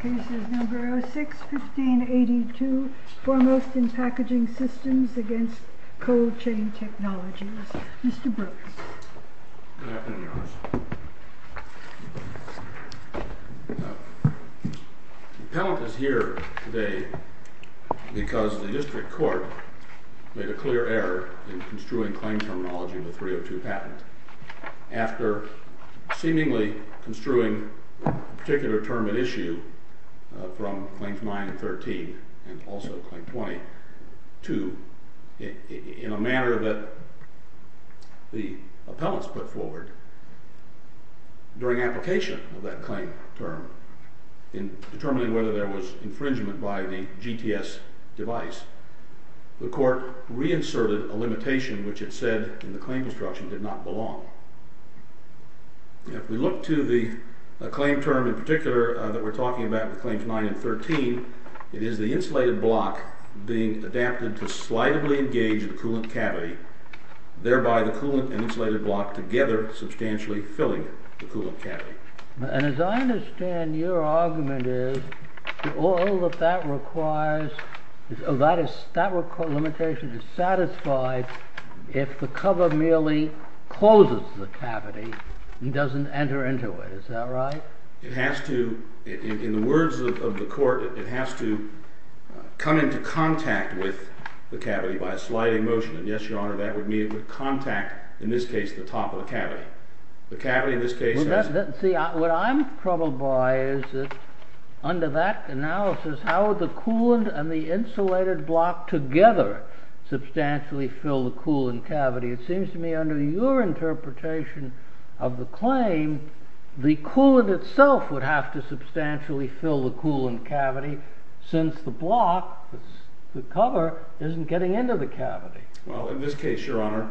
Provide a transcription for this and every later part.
Cases No. 06-1582 Foremost in Packaging systems v. Cold Chain Technologies, Mr. Brooks. Good afternoon, Your Honor. The appellant is here today because the district court made a clear error in construing claim terminology in the 302 patent. After seemingly construing a particular term at issue from Claims 9-13 and also Claim 20-2, in a manner that the appellants put forward, during application of that claim term in determining whether there was infringement by the GTS device, the court reinserted a limitation which it said in the claim construction did not belong. If we look to the claim term in particular that we're talking about with Claims 9 and 13, it is the insulated block being adapted to slightly engage the coolant cavity, thereby the coolant and insulated block together substantially filling the coolant cavity. And as I understand your argument is, that limitation is satisfied if the cover merely closes the cavity and doesn't enter into it, is that right? It has to, in the words of the court, it has to come into contact with the cavity by a sliding motion. And yes, Your Honor, that would mean it would contact, in this case, the top of the cavity. The cavity in this case has- See, what I'm troubled by is that under that analysis, how the coolant and the insulated block together substantially fill the coolant cavity. It seems to me under your interpretation of the claim, the coolant itself would have to substantially fill the coolant cavity since the block, the cover, isn't getting into the cavity. Well, in this case, Your Honor,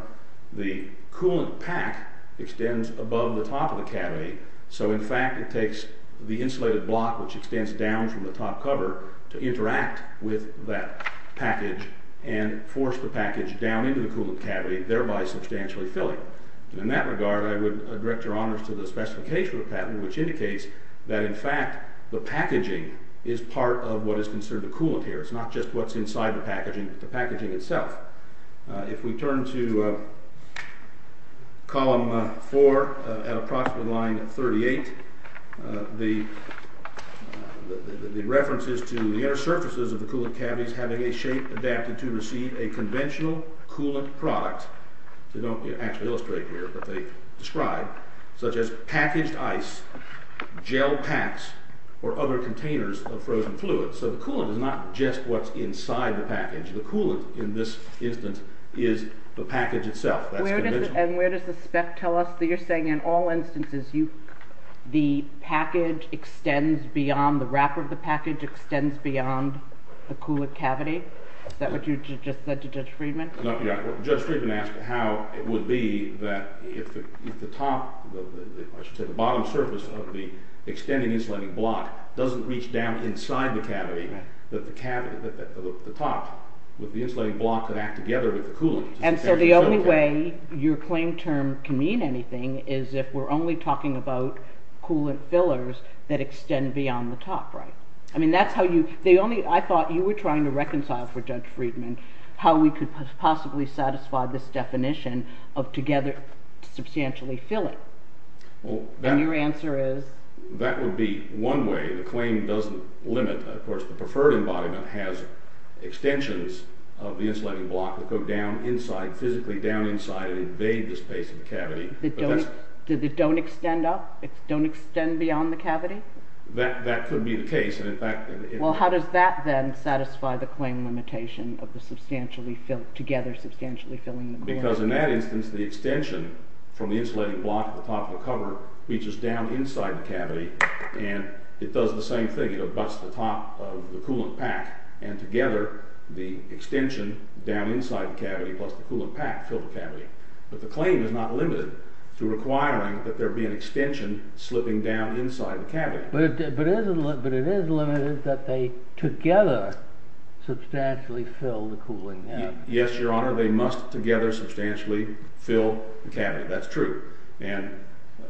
the coolant pack extends above the top of the cavity, so in fact it takes the insulated block, which extends down from the top cover, to interact with that package and force the package down into the coolant cavity, thereby substantially filling. In that regard, I would direct Your Honor to the specification of the patent, which indicates that in fact, the packaging is part of what is considered the coolant here. It's not just what's inside the packaging, the packaging itself. If we turn to Column 4, at approximately line 38, the references to the inner surfaces of the coolant cavities having a shape adapted to receive a conventional coolant product, they don't actually illustrate here, but they describe, such as packaged ice, gel packs, or other containers of frozen fluid. So the coolant is not just what's inside the package, the coolant in this instance is the package itself. That's conventional. And where does the spec tell us that you're saying in all instances, the package extends beyond, the wrapper of the package extends beyond the coolant cavity? Is that what you just said to Judge Friedman? No, yeah. Judge Friedman asked how it would be that if the top, I should say the bottom surface of the extending insulating block doesn't reach down inside the cavity, that the top, with the insulating block, would act together with the coolant. And so the only way your claim term can mean anything is if we're only talking about coolant fillers that extend beyond the top, right? I mean that's how you, the only, I thought you were trying to reconcile for Judge Friedman how we could possibly satisfy this definition of together, substantially filling. And your answer is? That would be one way, the claim doesn't limit, of course the preferred embodiment has extensions of the insulating block that go down inside, physically down inside and invade the space of the cavity. That don't extend up? That don't extend beyond the cavity? That could be the case, and in fact... Well how does that then satisfy the claim limitation of the together substantially filling the cavity? Because in that instance the extension from the insulating block at the top of the cover reaches down inside the cavity and it does the same thing, it abuts the top of the coolant pack and together the extension down inside the cavity plus the coolant pack fill the cavity. But the claim is not limited to requiring that there be an extension slipping down inside the cavity. But it is limited that they together substantially fill the cooling cavity. Yes your honor, they must together substantially fill the cavity, that's true. And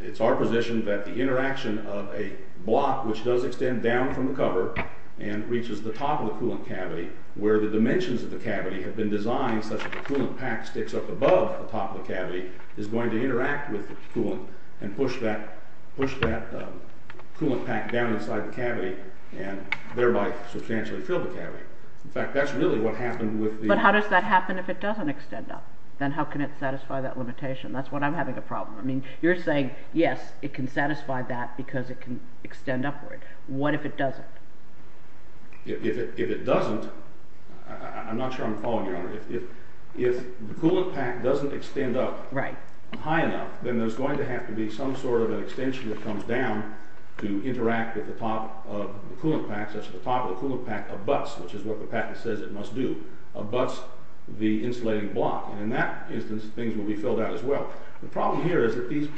it's our position that the interaction of a block which does extend down from the cover and reaches the top of the coolant cavity where the dimensions of the cavity have been designed such that the coolant pack sticks up above the top of the cavity is going to interact with the coolant and push that coolant pack down inside the cavity and thereby substantially fill the cavity. In fact that's really what happened with the... But how does that happen if it doesn't extend up? Then how can it satisfy that limitation? That's what I'm having a problem with. You're saying yes, it can satisfy that because it can extend upward. What if it doesn't? If it doesn't, I'm not sure I'm following your honor, if the coolant pack doesn't extend up high enough, then there's going to have to be some sort of an extension that comes down to interact with the top of the coolant pack such that the top of the coolant pack abuts, which is what the patent says it must do, abuts the insulating block. And in that instance things will be filled out as well. The problem here is that these,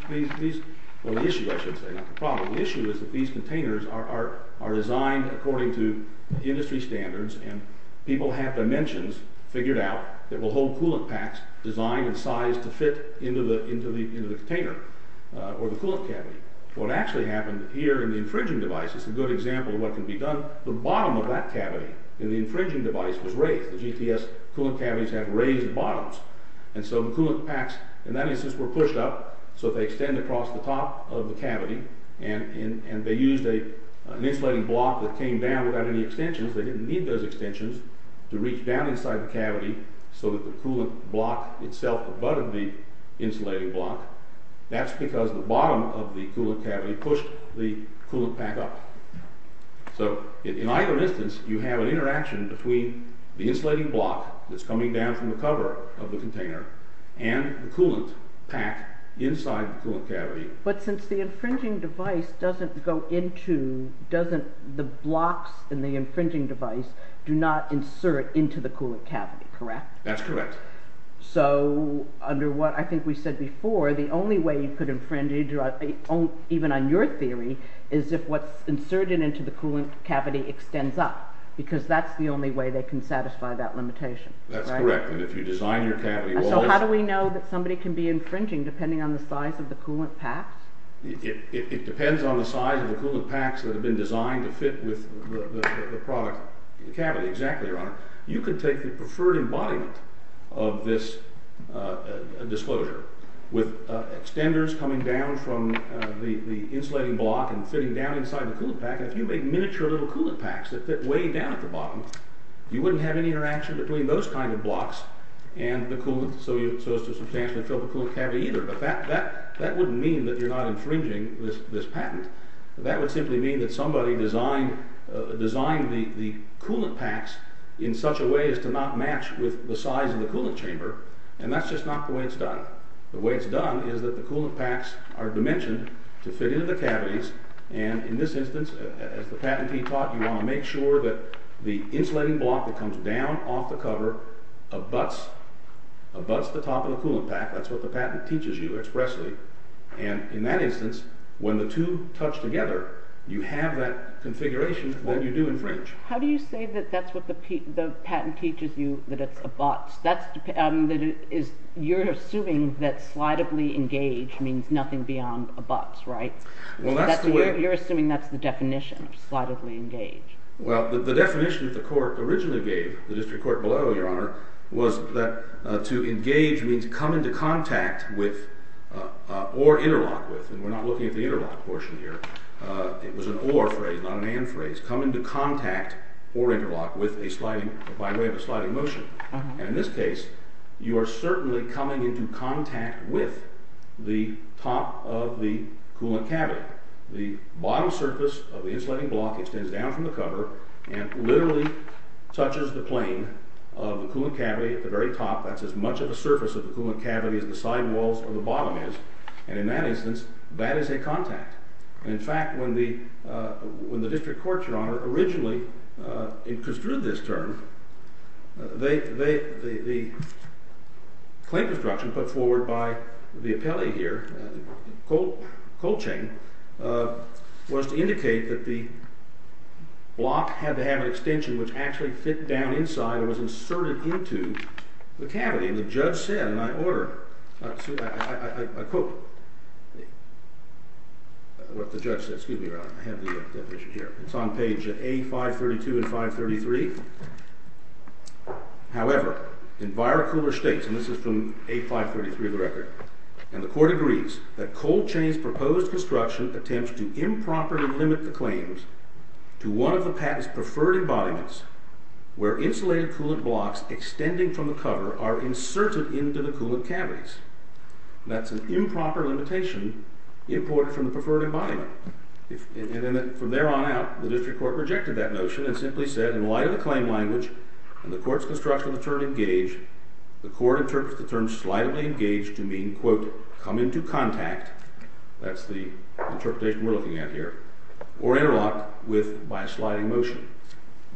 well the issue I should say, not the problem, the issue is that these containers are designed according to industry standards and people have dimensions figured out that will hold coolant packs designed and sized to fit into the container or the coolant cavity. What actually happened here in the infringing device is a good example of what can be done. The bottom of that cavity in the infringing device was raised. The GTS coolant cavities have raised bottoms. And so the coolant packs in that instance were pushed up so they extend across the top of the cavity and they used an insulating block that came down without any extensions, they didn't need those extensions, to reach down inside the cavity so that the coolant block itself abutted the insulating block. That's because the bottom of the coolant cavity pushed the coolant pack up. So in either instance you have an interaction between the insulating block that's coming down from the cover of the container and the coolant pack inside the coolant cavity. But since the infringing device doesn't go into, doesn't, the blocks in the infringing device do not insert into the coolant cavity, correct? That's correct. So under what I think we said before, the only way you could infringe, even on your theory, is if what's inserted into the coolant cavity extends up, because that's the only way they can satisfy that limitation. That's correct. And if you design your cavity... So how do we know that somebody can be infringing depending on the size of the coolant pack? It depends on the size of the coolant packs that have been designed to fit with the product, the cavity, exactly, Your Honor. You could take the preferred embodiment of this disclosure, with extenders coming down from the insulating block and fitting down inside the coolant pack, and if you make miniature little coolant packs that fit way down at the bottom, you wouldn't have any interaction between those kind of blocks and the coolant, so as to substantially fill the coolant cavity either. But that wouldn't mean that you're not infringing this patent. That would simply mean that somebody designed the coolant packs in such a way as to not match with the size of the coolant chamber, and that's just not the way it's done. The way it's done is that the coolant packs are dimensioned to fit into the cavities, and in this instance, as the patentee taught, you want to make sure that the insulating block that comes down off the cover abuts the top of the coolant pack. That's what the patent teaches you expressly. And in that instance, when the two touch together, you have that configuration that you do infringe. How do you say that that's what the patent teaches you, that it's abuts? You're assuming that slightly engaged means nothing beyond abuts, right? You're assuming that's the definition of slightly engaged. Well, the definition that the court originally gave, the district court below, Your Honor, was that to engage means come into contact with or interlock with, and we're not looking at the interlock portion here. It was an or phrase, not an and phrase. Come into contact or interlock with by way of a sliding motion. And in this case, you are certainly coming into contact with the top of the coolant cavity. The bottom surface of the insulating block extends down from the cover and literally touches the plane of the coolant cavity at the very top. That's as much of the surface of the coolant cavity as the side walls or the bottom is. And in that instance, that is a contact. And in fact, when the district court, Your Honor, originally construed this term, the claim construction put forward by the appellee here, Colcheng, was to indicate that the block had to have an extension which actually fit down inside or was inserted into the cavity. And the judge said, and I quote what the judge said. Excuse me, Your Honor, I have the definition here. It's on page A532 and 533. However, in Weyer-Kuhler states, and this is from A533 of the record, and the court agrees that Colcheng's proposed construction attempts to improperly limit the claims to one of the patent's preferred embodiments where insulated coolant blocks extending from the cover are inserted into the coolant cavities. That's an improper limitation imported from the preferred embodiment. And from there on out, the district court rejected that notion and simply said in light of the claim language and the court's construction of the term engage, the court interprets the term slightly engage to mean, quote, come into contact. That's the interpretation we're looking at here. Or interlock with by sliding motion.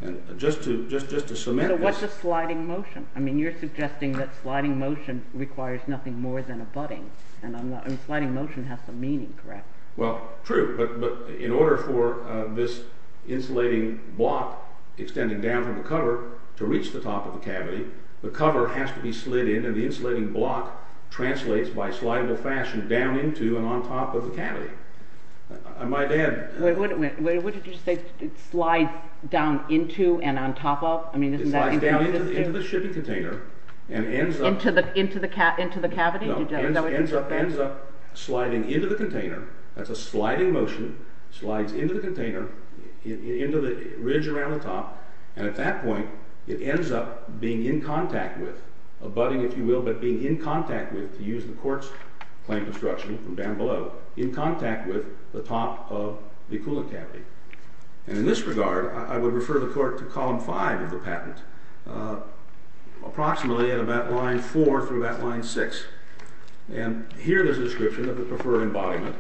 And just to cement this. So what's a sliding motion? I mean you're suggesting that sliding motion requires nothing more than a budding. And sliding motion has some meaning, correct? Well, true, but in order for this insulating block extending down from the cover to reach the top of the cavity, the cover has to be slid in, and the insulating block translates by slideable fashion down into and on top of the cavity. I might add. What did you say? It slides down into and on top of? It slides down into the shipping container and ends up. Into the cavity? No, ends up sliding into the container. That's a sliding motion. Slides into the container, into the ridge around the top, and at that point it ends up being in contact with, a budding, if you will, but being in contact with, to use the court's claim construction from down below, in contact with the top of the coolant cavity. And in this regard, I would refer the court to column five of the patent, approximately at about line four through about line six. And here there's a description of the preferred embodiment,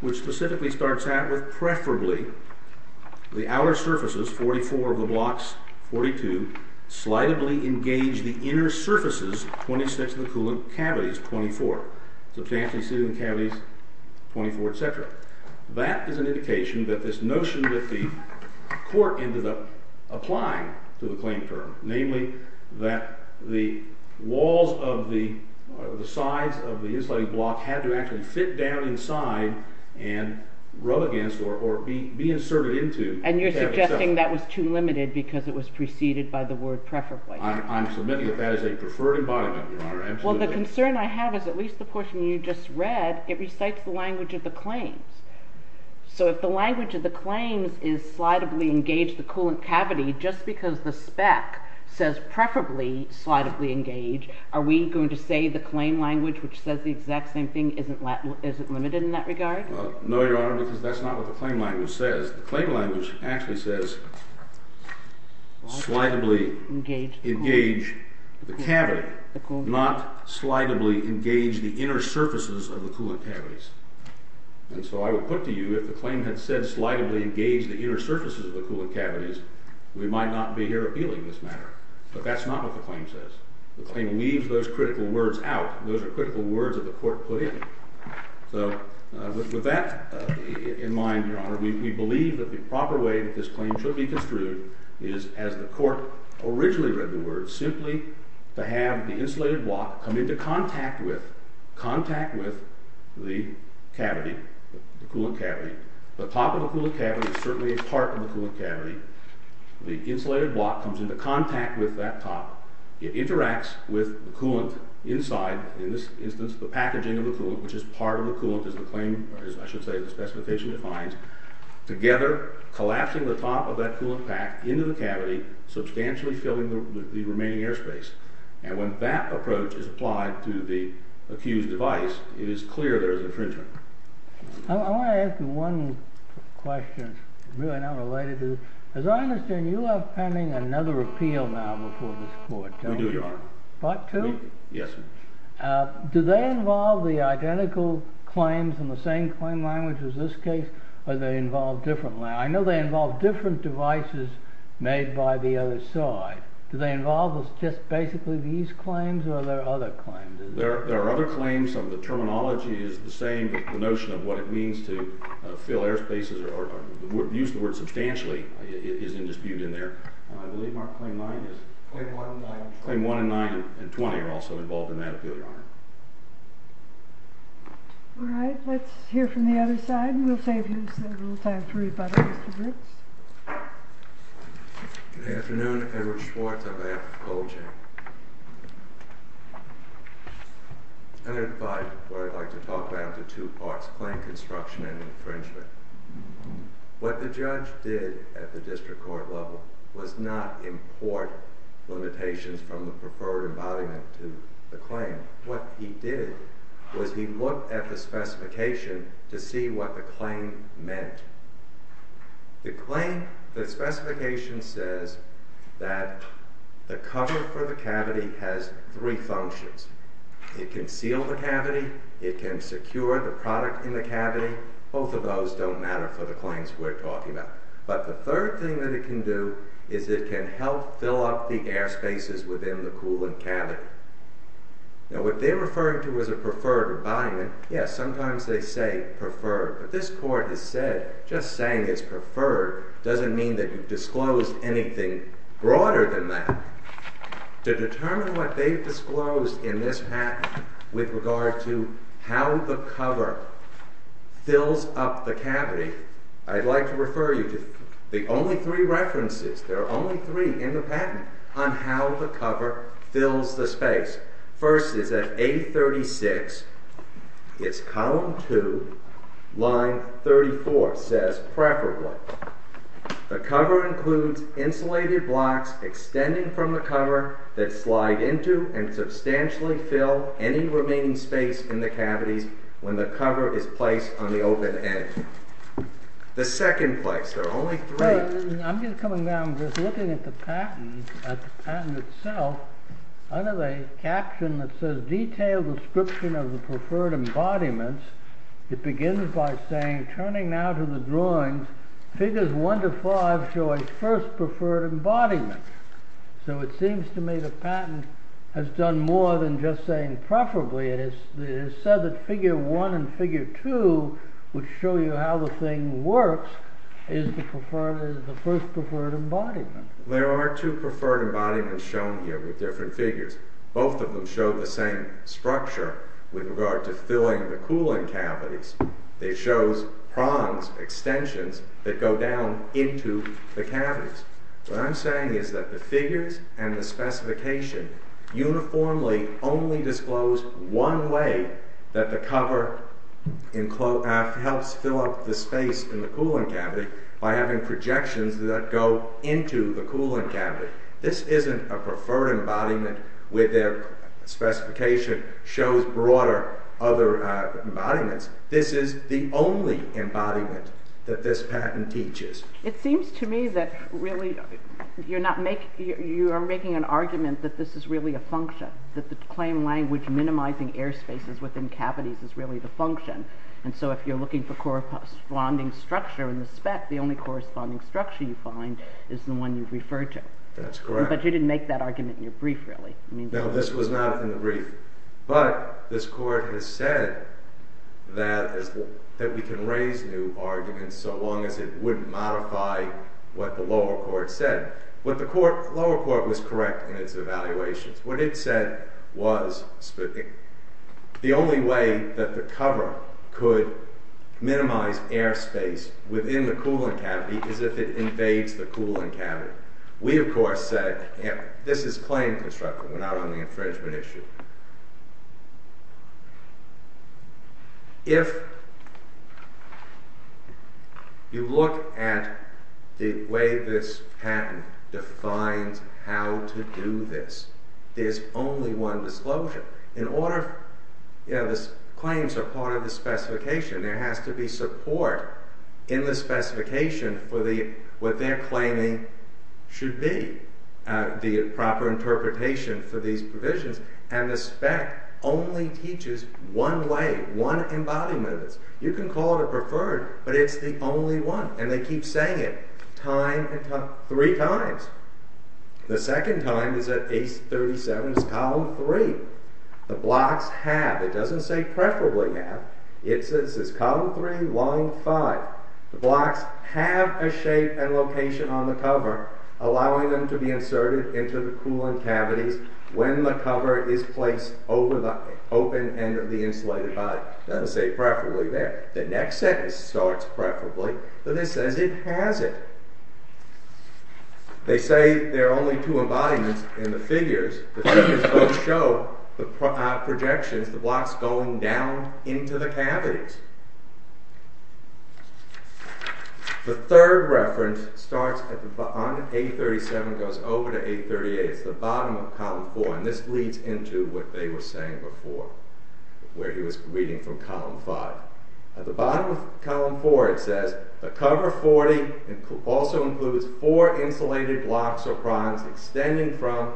which specifically starts out with, preferably the outer surfaces, 44 of the blocks, 42, slidably engage the inner surfaces, 26 of the coolant cavities, 24, substantially exceeding the cavities, 24, et cetera. That is an indication that this notion that the court ended up applying to the claim term, namely that the walls of the sides of the insulating block had to actually fit down inside and rub against or be inserted into. And you're suggesting that was too limited because it was preceded by the word preferably. I'm submitting that that is a preferred embodiment, Your Honor. Well, the concern I have is at least the portion you just read, it recites the language of the claims. So if the language of the claims is slidably engage the coolant cavity, just because the spec says preferably slidably engage, are we going to say the claim language, which says the exact same thing, isn't limited in that regard? No, Your Honor, because that's not what the claim language says. The claim language actually says slidably engage the cavity, not slidably engage the inner surfaces of the coolant cavities. And so I would put to you if the claim had said slidably engage the inner surfaces of the coolant cavities, we might not be here appealing this matter. But that's not what the claim says. The claim leaves those critical words out. Those are critical words that the court put in. So with that in mind, Your Honor, we believe that the proper way that this claim should be construed is as the court originally read the words, simply to have the insulated block come into contact with the cavity, the coolant cavity. The top of the coolant cavity is certainly a part of the coolant cavity. The insulated block comes into contact with that top. It interacts with the coolant inside. In this instance, the packaging of the coolant, which is part of the coolant as the claim, or as I should say the specification defines, together collapsing the top of that coolant pack into the cavity, substantially filling the remaining airspace. And when that approach is applied to the accused device, it is clear there is infringement. I want to ask you one question, really not related to this. As I understand, you have pending another appeal now before this court. We do, Your Honor. What, two? Yes, sir. Do they involve the identical claims in the same claim language as this case, or do they involve different? I know they involve different devices made by the other side. Do they involve just basically these claims, or are there other claims? There are other claims. Some of the terminology is the same, but the notion of what it means to fill airspaces, or use the word substantially, is in dispute in there. I believe Mark Claim 9 is? Claim 1 and 9 and 20. Claim 1 and 9 and 20 are also involved in that appeal, Your Honor. All right, let's hear from the other side, and we'll save you a little time to read by the rest of the groups. Good afternoon. Edward Schwartz on behalf of Colgene. I'd like to talk about the two parts, claim construction and infringement. What the judge did at the district court level was not import limitations from the preferred embodiment to the claim. What he did was he looked at the specification to see what the claim meant. The specification says that the cover for the cavity has three functions. It can seal the cavity. It can secure the product in the cavity. Both of those don't matter for the claims we're talking about. But the third thing that it can do is it can help fill up the airspaces within the coolant cavity. Now, what they're referring to as a preferred embodiment, yes, sometimes they say preferred, but this court has said just saying it's preferred doesn't mean that you've disclosed anything broader than that. To determine what they've disclosed in this patent with regard to how the cover fills up the cavity, I'd like to refer you to the only three references, there are only three in the patent, on how the cover fills the space. The first is at A36. It's column 2, line 34. It says, preferably, the cover includes insulated blocks extending from the cover that slide into and substantially fill any remaining space in the cavities when the cover is placed on the open edge. The second place, there are only three. I'm just coming down, just looking at the patent, at the patent itself, under the caption that says detailed description of the preferred embodiments, it begins by saying, turning now to the drawings, figures 1 to 5 show a first preferred embodiment. So it seems to me the patent has done more than just saying preferably, it has said that figure 1 and figure 2 would show you how the thing works, is the first preferred embodiment. There are two preferred embodiments shown here with different figures. Both of them show the same structure with regard to filling the cooling cavities. It shows prongs, extensions, that go down into the cavities. What I'm saying is that the figures and the specification uniformly only disclose one way that the cover helps fill up the space in the cooling cavity by having projections that go into the cooling cavity. This isn't a preferred embodiment where their specification shows broader other embodiments. This is the only embodiment that this patent teaches. It seems to me that really you are making an argument that this is really a function, that the claim language minimizing air spaces within cavities is really the function. And so if you're looking for corresponding structure in the spec, the only corresponding structure you find is the one you've referred to. But you didn't make that argument in your brief, really. No, this was not in the brief. But this court has said that we can raise new arguments so long as it wouldn't modify what the lower court said. What the lower court was correct in its evaluations. What it said was the only way that the cover could minimize air space within the cooling cavity is if it invades the cooling cavity. We, of course, said this is claim construction. We're not on the infringement issue. If you look at the way this patent defines how to do this, there's only one disclosure. In order, you know, the claims are part of the specification. There has to be support in the specification for what they're claiming should be. The proper interpretation for these provisions. And the spec only teaches one way, one embodiment of this. You can call it a preferred, but it's the only one. And they keep saying it time and time, three times. The second time is at page 37, it's column three. The blocks have, it doesn't say preferably have, it says column three, line five. The blocks have a shape and location on the cover allowing them to be inserted into the cooling cavities when the cover is placed over the open end of the insulated body. It doesn't say preferably there. The next sentence starts preferably, but it says it hasn't. They say there are only two embodiments in the figures. The figures don't show the projections, the blocks going down into the cavities. The third reference starts on A37, goes over to A38. It's the bottom of column four. And this leads into what they were saying before, where he was reading from column five. At the bottom of column four it says, The cover 40 also includes four insulated blocks or prongs extending from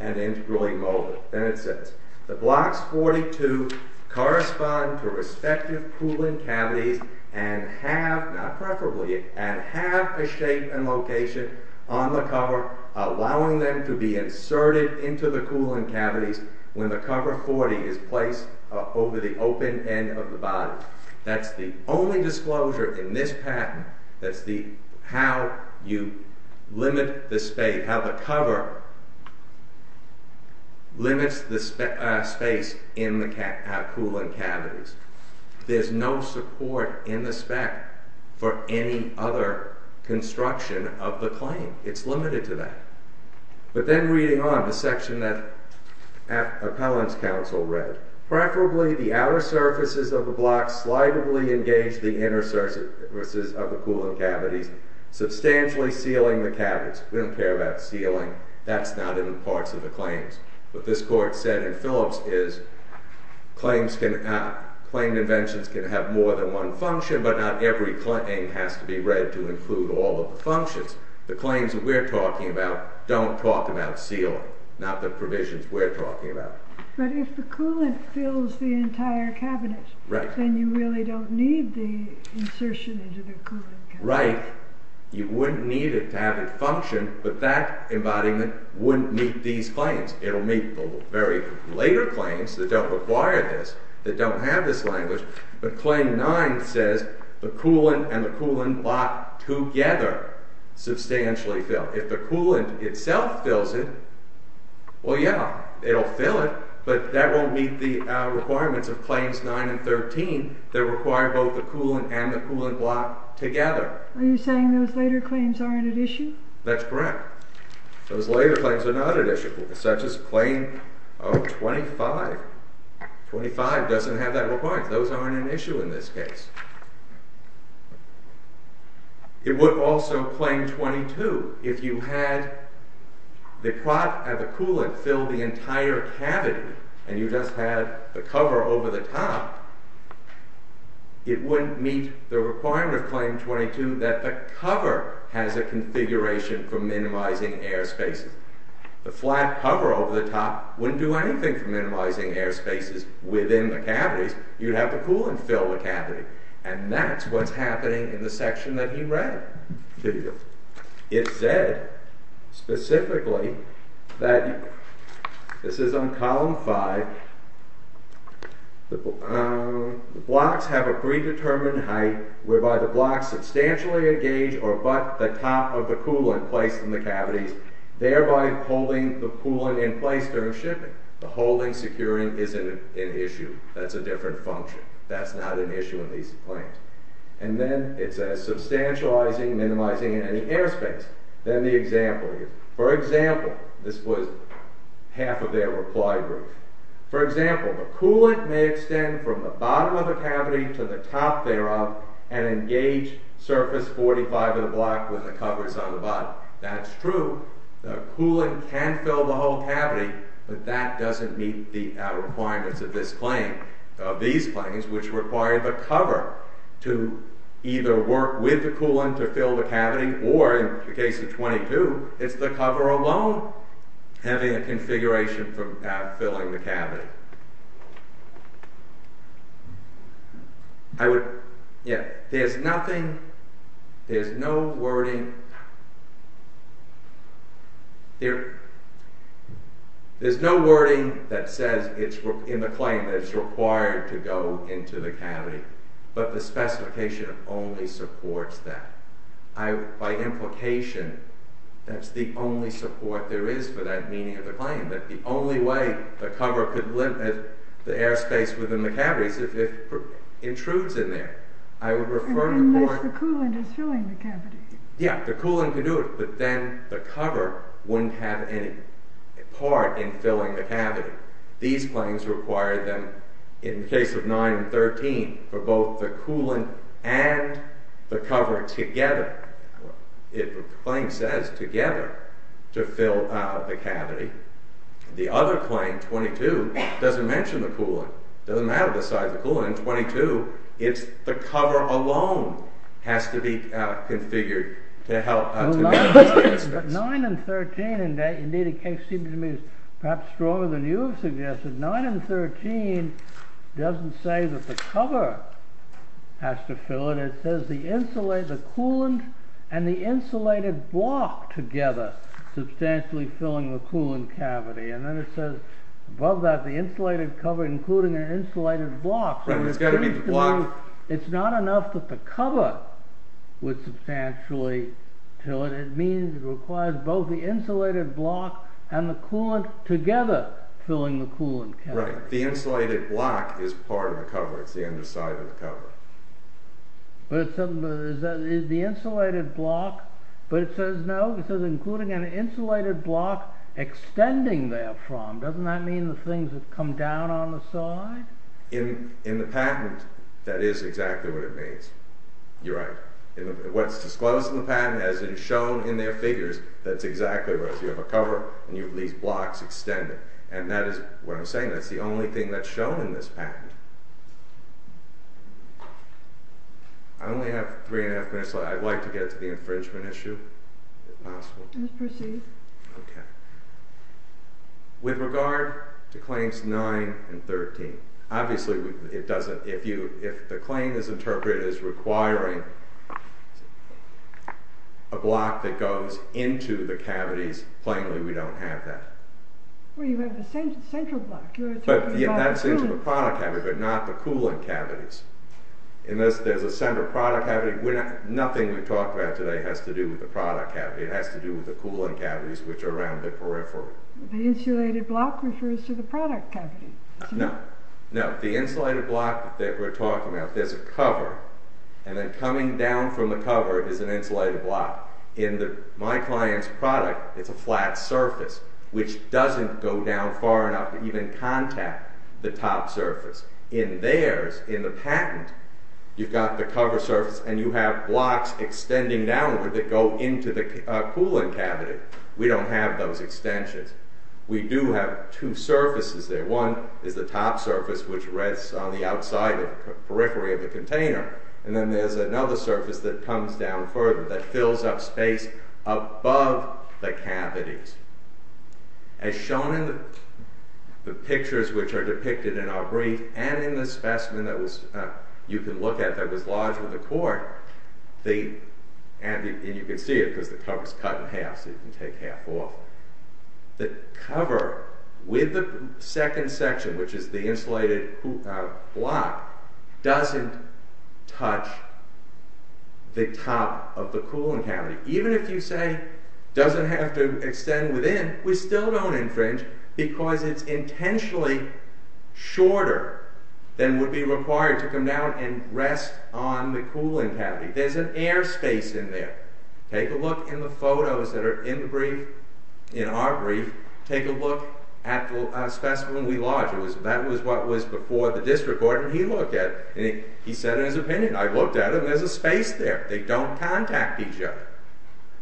and integrally molded. Then it says, The blocks 42 correspond to respective cooling cavities and have, not preferably, and have a shape and location on the cover allowing them to be inserted into the cooling cavities when the cover 40 is placed over the open end of the body. That's the only disclosure in this patent. That's how you limit the space, how the cover limits the space in the cooling cavities. There's no support in the spec for any other construction of the claim. It's limited to that. But then reading on, the section that Appellant's counsel read, Preferably the outer surfaces of the blocks slightly engage the inner surfaces of the cooling cavities, substantially sealing the cavities. We don't care about sealing. That's not in the parts of the claims. What this court said in Phillips is, Claimed inventions can have more than one function, but not every claim has to be read to include all of the functions. The claims that we're talking about don't talk about sealing, not the provisions we're talking about. But if the coolant fills the entire cavity, then you really don't need the insertion into the cooling cavity. Right. You wouldn't need it to have it function, but that embodiment wouldn't meet these claims. It'll meet the very later claims that don't require this, that don't have this language. But Claim 9 says the coolant and the coolant block together substantially fill. If the coolant itself fills it, well, yeah, it'll fill it, but that won't meet the requirements of Claims 9 and 13 that require both the coolant and the coolant block together. Are you saying those later claims aren't at issue? That's correct. Those later claims are not at issue, such as Claim 25. 25 doesn't have that requirement. Those aren't an issue in this case. It would also, Claim 22, if you had the pot and the coolant fill the entire cavity and you just had the cover over the top, it wouldn't meet the requirement of Claim 22 that the cover has a configuration for minimizing air spaces. The flat cover over the top wouldn't do anything for minimizing air spaces within the cavities. You'd have the coolant fill the cavity. And that's what's happening in the section that he read to you. It said specifically that, this is on Column 5, the blocks have a predetermined height whereby the blocks substantially engage or butt the top of the coolant placed in the cavities, thereby holding the coolant in place during shipping. The holding securing isn't an issue. That's a different function. That's not an issue in these claims. And then it says, substantializing, minimizing any air space. Then the example here. For example, this was half of their reply group. For example, the coolant may extend from the bottom of the cavity to the top thereof and engage surface 45 of the block with the covers on the bottom. That's true. The coolant can fill the whole cavity, but that doesn't meet the requirements of these claims which require the cover to either work with the coolant to fill the cavity or, in the case of 22, it's the cover alone having a configuration for filling the cavity. There's nothing, there's no wording, there's no wording that says in the claim that it's required to go into the cavity. But the specification only supports that. By implication, that's the only support there is for that meaning of the claim, that the only way the cover could limit the air space within the cavity is if it intrudes in there. I would refer to the point... Unless the coolant is filling the cavity. Yeah, the coolant could do it, but then the cover wouldn't have any part in filling the cavity. These claims require them, in the case of 9 and 13, for both the coolant and the cover together. The claim says together to fill the cavity. The other claim, 22, doesn't mention the coolant. It doesn't matter the size of the coolant in 22. It's the cover alone has to be configured to help... 9 and 13, and indeed it seems to me perhaps stronger than you have suggested, 9 and 13 doesn't say that the cover has to fill it. It says the insulated coolant and the insulated block together substantially filling the coolant cavity. And then it says above that, the insulated cover including an insulated block. Right, it's got to meet the block. It's not enough that the cover would substantially fill it. It means it requires both the insulated block and the coolant together filling the coolant cavity. Right, the insulated block is part of the cover. It's the underside of the cover. But is the insulated block... But it says no, it says including an insulated block extending therefrom. Doesn't that mean the things that come down on the side? In the patent, that is exactly what it means. You're right. What's disclosed in the patent as it is shown in their figures, that's exactly what it is. You have a cover and these blocks extend it. And that is what I'm saying. That's the only thing that's shown in this patent. I only have three and a half minutes left. I'd like to get to the infringement issue if possible. Okay. With regard to claims 9 and 13, obviously it doesn't... If the claim is interpreted as requiring a block that goes into the cavities, plainly we don't have that. Well, you have the central block. That's into the product cavity but not the coolant cavities. Unless there's a center product cavity, nothing we talk about today has to do with the product cavity. It has to do with the coolant cavities which are around the peripheral. The insulated block refers to the product cavity. No. No, the insulated block that we're talking about, there's a cover. And then coming down from the cover is an insulated block. In my client's product, it's a flat surface which doesn't go down far enough to even contact the top surface. In theirs, in the patent, you've got the cover surface and you have blocks extending downward that go into the coolant cavity. We don't have those extensions. We do have two surfaces there. One is the top surface which rests on the outside of the periphery of the container and then there's another surface that comes down further that fills up space above the cavities. As shown in the pictures which are depicted in our brief and in the specimen that you can look at that was lodged with the court and you can see it because the cover is cut in half so you can take half off. The cover with the second section which is the insulated block doesn't touch the top of the coolant cavity. Even if you say it doesn't have to extend within we still don't infringe because it's intentionally shorter than would be required to come down and rest on the coolant cavity. There's an air space in there. Take a look in the photos that are in our brief take a look at the specimen we lodged. That was before the district court and he looked at it and he said in his opinion I looked at it and there's a space there. They don't contact each other.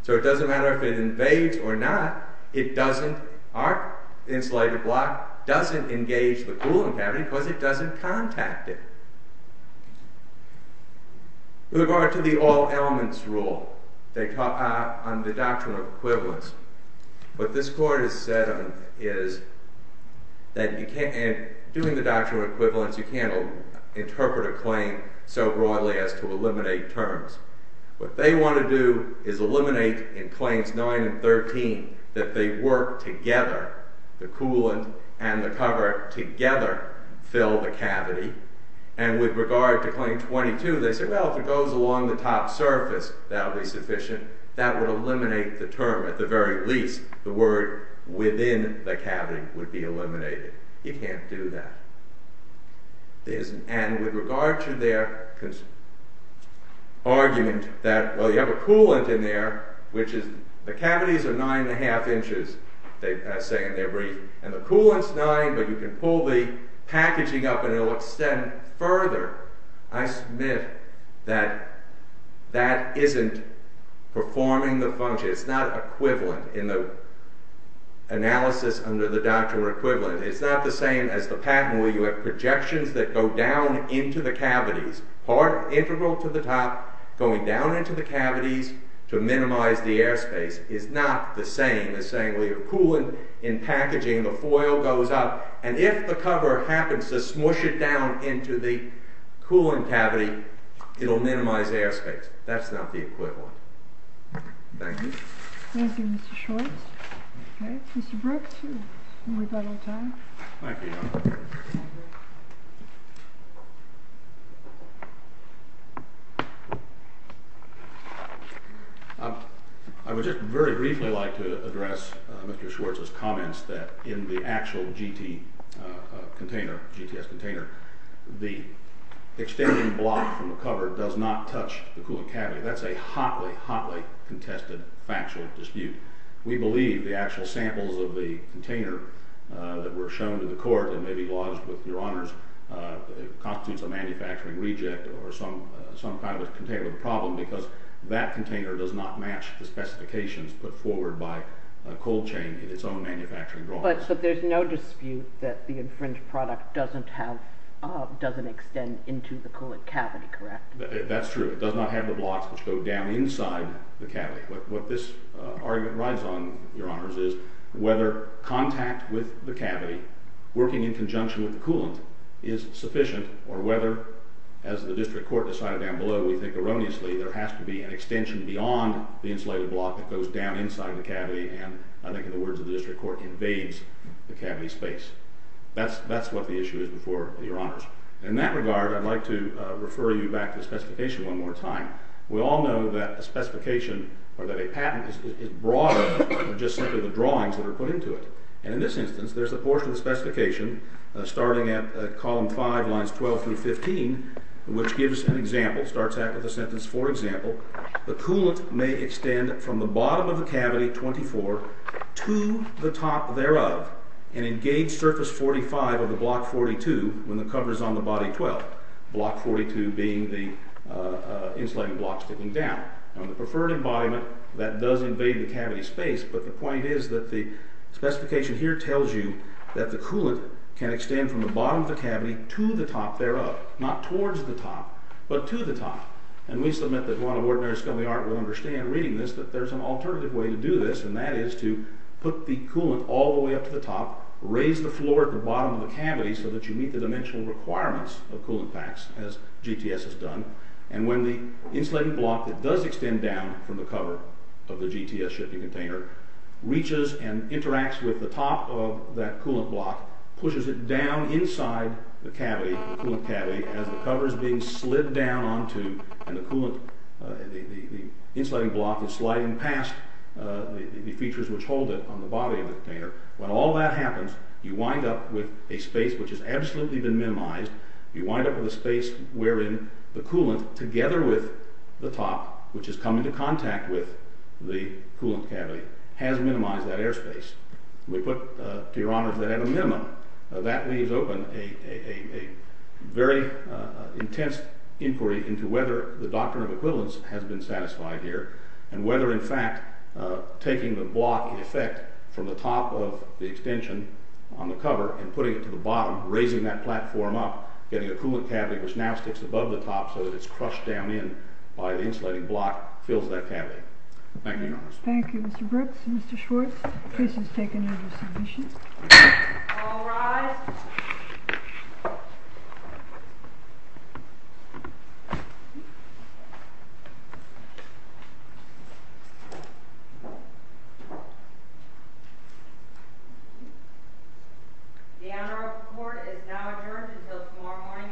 So it doesn't matter if it invades or not it doesn't, our insulated block doesn't engage the coolant cavity because it doesn't contact it. With regard to the all elements rule on the doctrinal equivalence what this court has said is that you can't, and doing the doctrinal equivalence you can't interpret a claim so broadly as to eliminate terms. What they want to do is eliminate in claims 9 and 13 that they work together the coolant and the cover together fill the cavity and with regard to the top surface that would be sufficient that would eliminate the term at the very least the word within the cavity would be eliminated. You can't do that. And with regard to their argument that well you have a coolant in there the cavities are 9 and a half inches as they say in their brief and the coolant is 9 but you can pull the packaging up and it will extend further. I submit that that isn't performing the function it's not equivalent in the analysis under the doctrinal equivalence. It's not the same as the patent where you have projections that go down into the cavities part integral to the top going down into the cavities to minimize the air space is not the same as saying well you're cooling in packaging the foil goes up and if the cover happens to cool in cavity it will minimize air space. That's not the equivalent. Thank you. Thank you Mr. Schwartz. Mr. Brooks we've got all the time. I would just very briefly like to address Mr. Schwartz's comments that in the actual GT container the extending block from the cover does not touch the cooling cavity. That's a hotly, hotly contested factual dispute. We believe the actual samples of the container that were shown to the court and maybe lodged with your honors constitutes a manufacturing reject or some kind of a containment problem because that container does not match the specifications put forward by cold chain in its own manufacturing drawings. So there's no way that this product doesn't have doesn't extend into the cooling cavity correct? That's true. It does not have the blocks which go down inside the cavity. What this argument rides on your honors is whether contact with the cavity working in conjunction with the coolant is sufficient or whether as the district court decided down below we think erroneously there has to be an extension beyond the insulated block that goes down inside the cavity and I think in the words of the district court invades the cavity space. That's what the issue is before your honors. In that regard I'd like to refer you back to the specification one more time. We all know that a specification or that a patent is broader than just simply the drawings that are put into it. And in this instance there's a portion of the specification starting at column 5 lines 12 through 15 which gives an example, starts out with a sentence for example the coolant may extend from the bottom of the cavity, 24 to the top thereof and engage surface 45 of the block 42 when the cover is on the body 12. Block 42 being the insulated block sticking down. On the preferred embodiment that does invade the cavity space but the point is that the specification here tells you that the coolant can extend from the bottom of the cavity to the top thereof. Not towards the top but to the top. And we submit that one of ordinary scummy art will understand reading this that there's an alternative way to do this and that is to put the coolant all the way up to the top, raise the floor at the bottom of the cavity so that you meet the dimensional requirements of coolant packs as GTS has done. And when the insulated block that does extend down from the cover of the GTS shipping container reaches and interacts with the top of that coolant block, pushes it down inside the cavity, the coolant cavity as the cover is being slid down onto and the coolant the insulated block is sliding past the features which hold it on the body of the container. When all that happens, you wind up with a space which has absolutely been minimized. You wind up with a space wherein the coolant together with the top, which has come into contact with the coolant cavity, has minimized that air space. We put, to your honors, that at a minimum. That leaves open a very intense inquiry into whether the doctrine of equivalence has been satisfied here, and whether in fact, taking the block in effect from the top of the extension on the cover and putting it to the bottom, raising that platform up, getting a coolant cavity which now sticks above the top so that it's crushed down in by the insulating block, fills that cavity. Thank you, your honors. Thank you, Mr. Brooks. Mr. Schwartz, case is taken under submission. All rise. Thank you. The Honorable Court is now adjourned until tomorrow morning at 10 AM.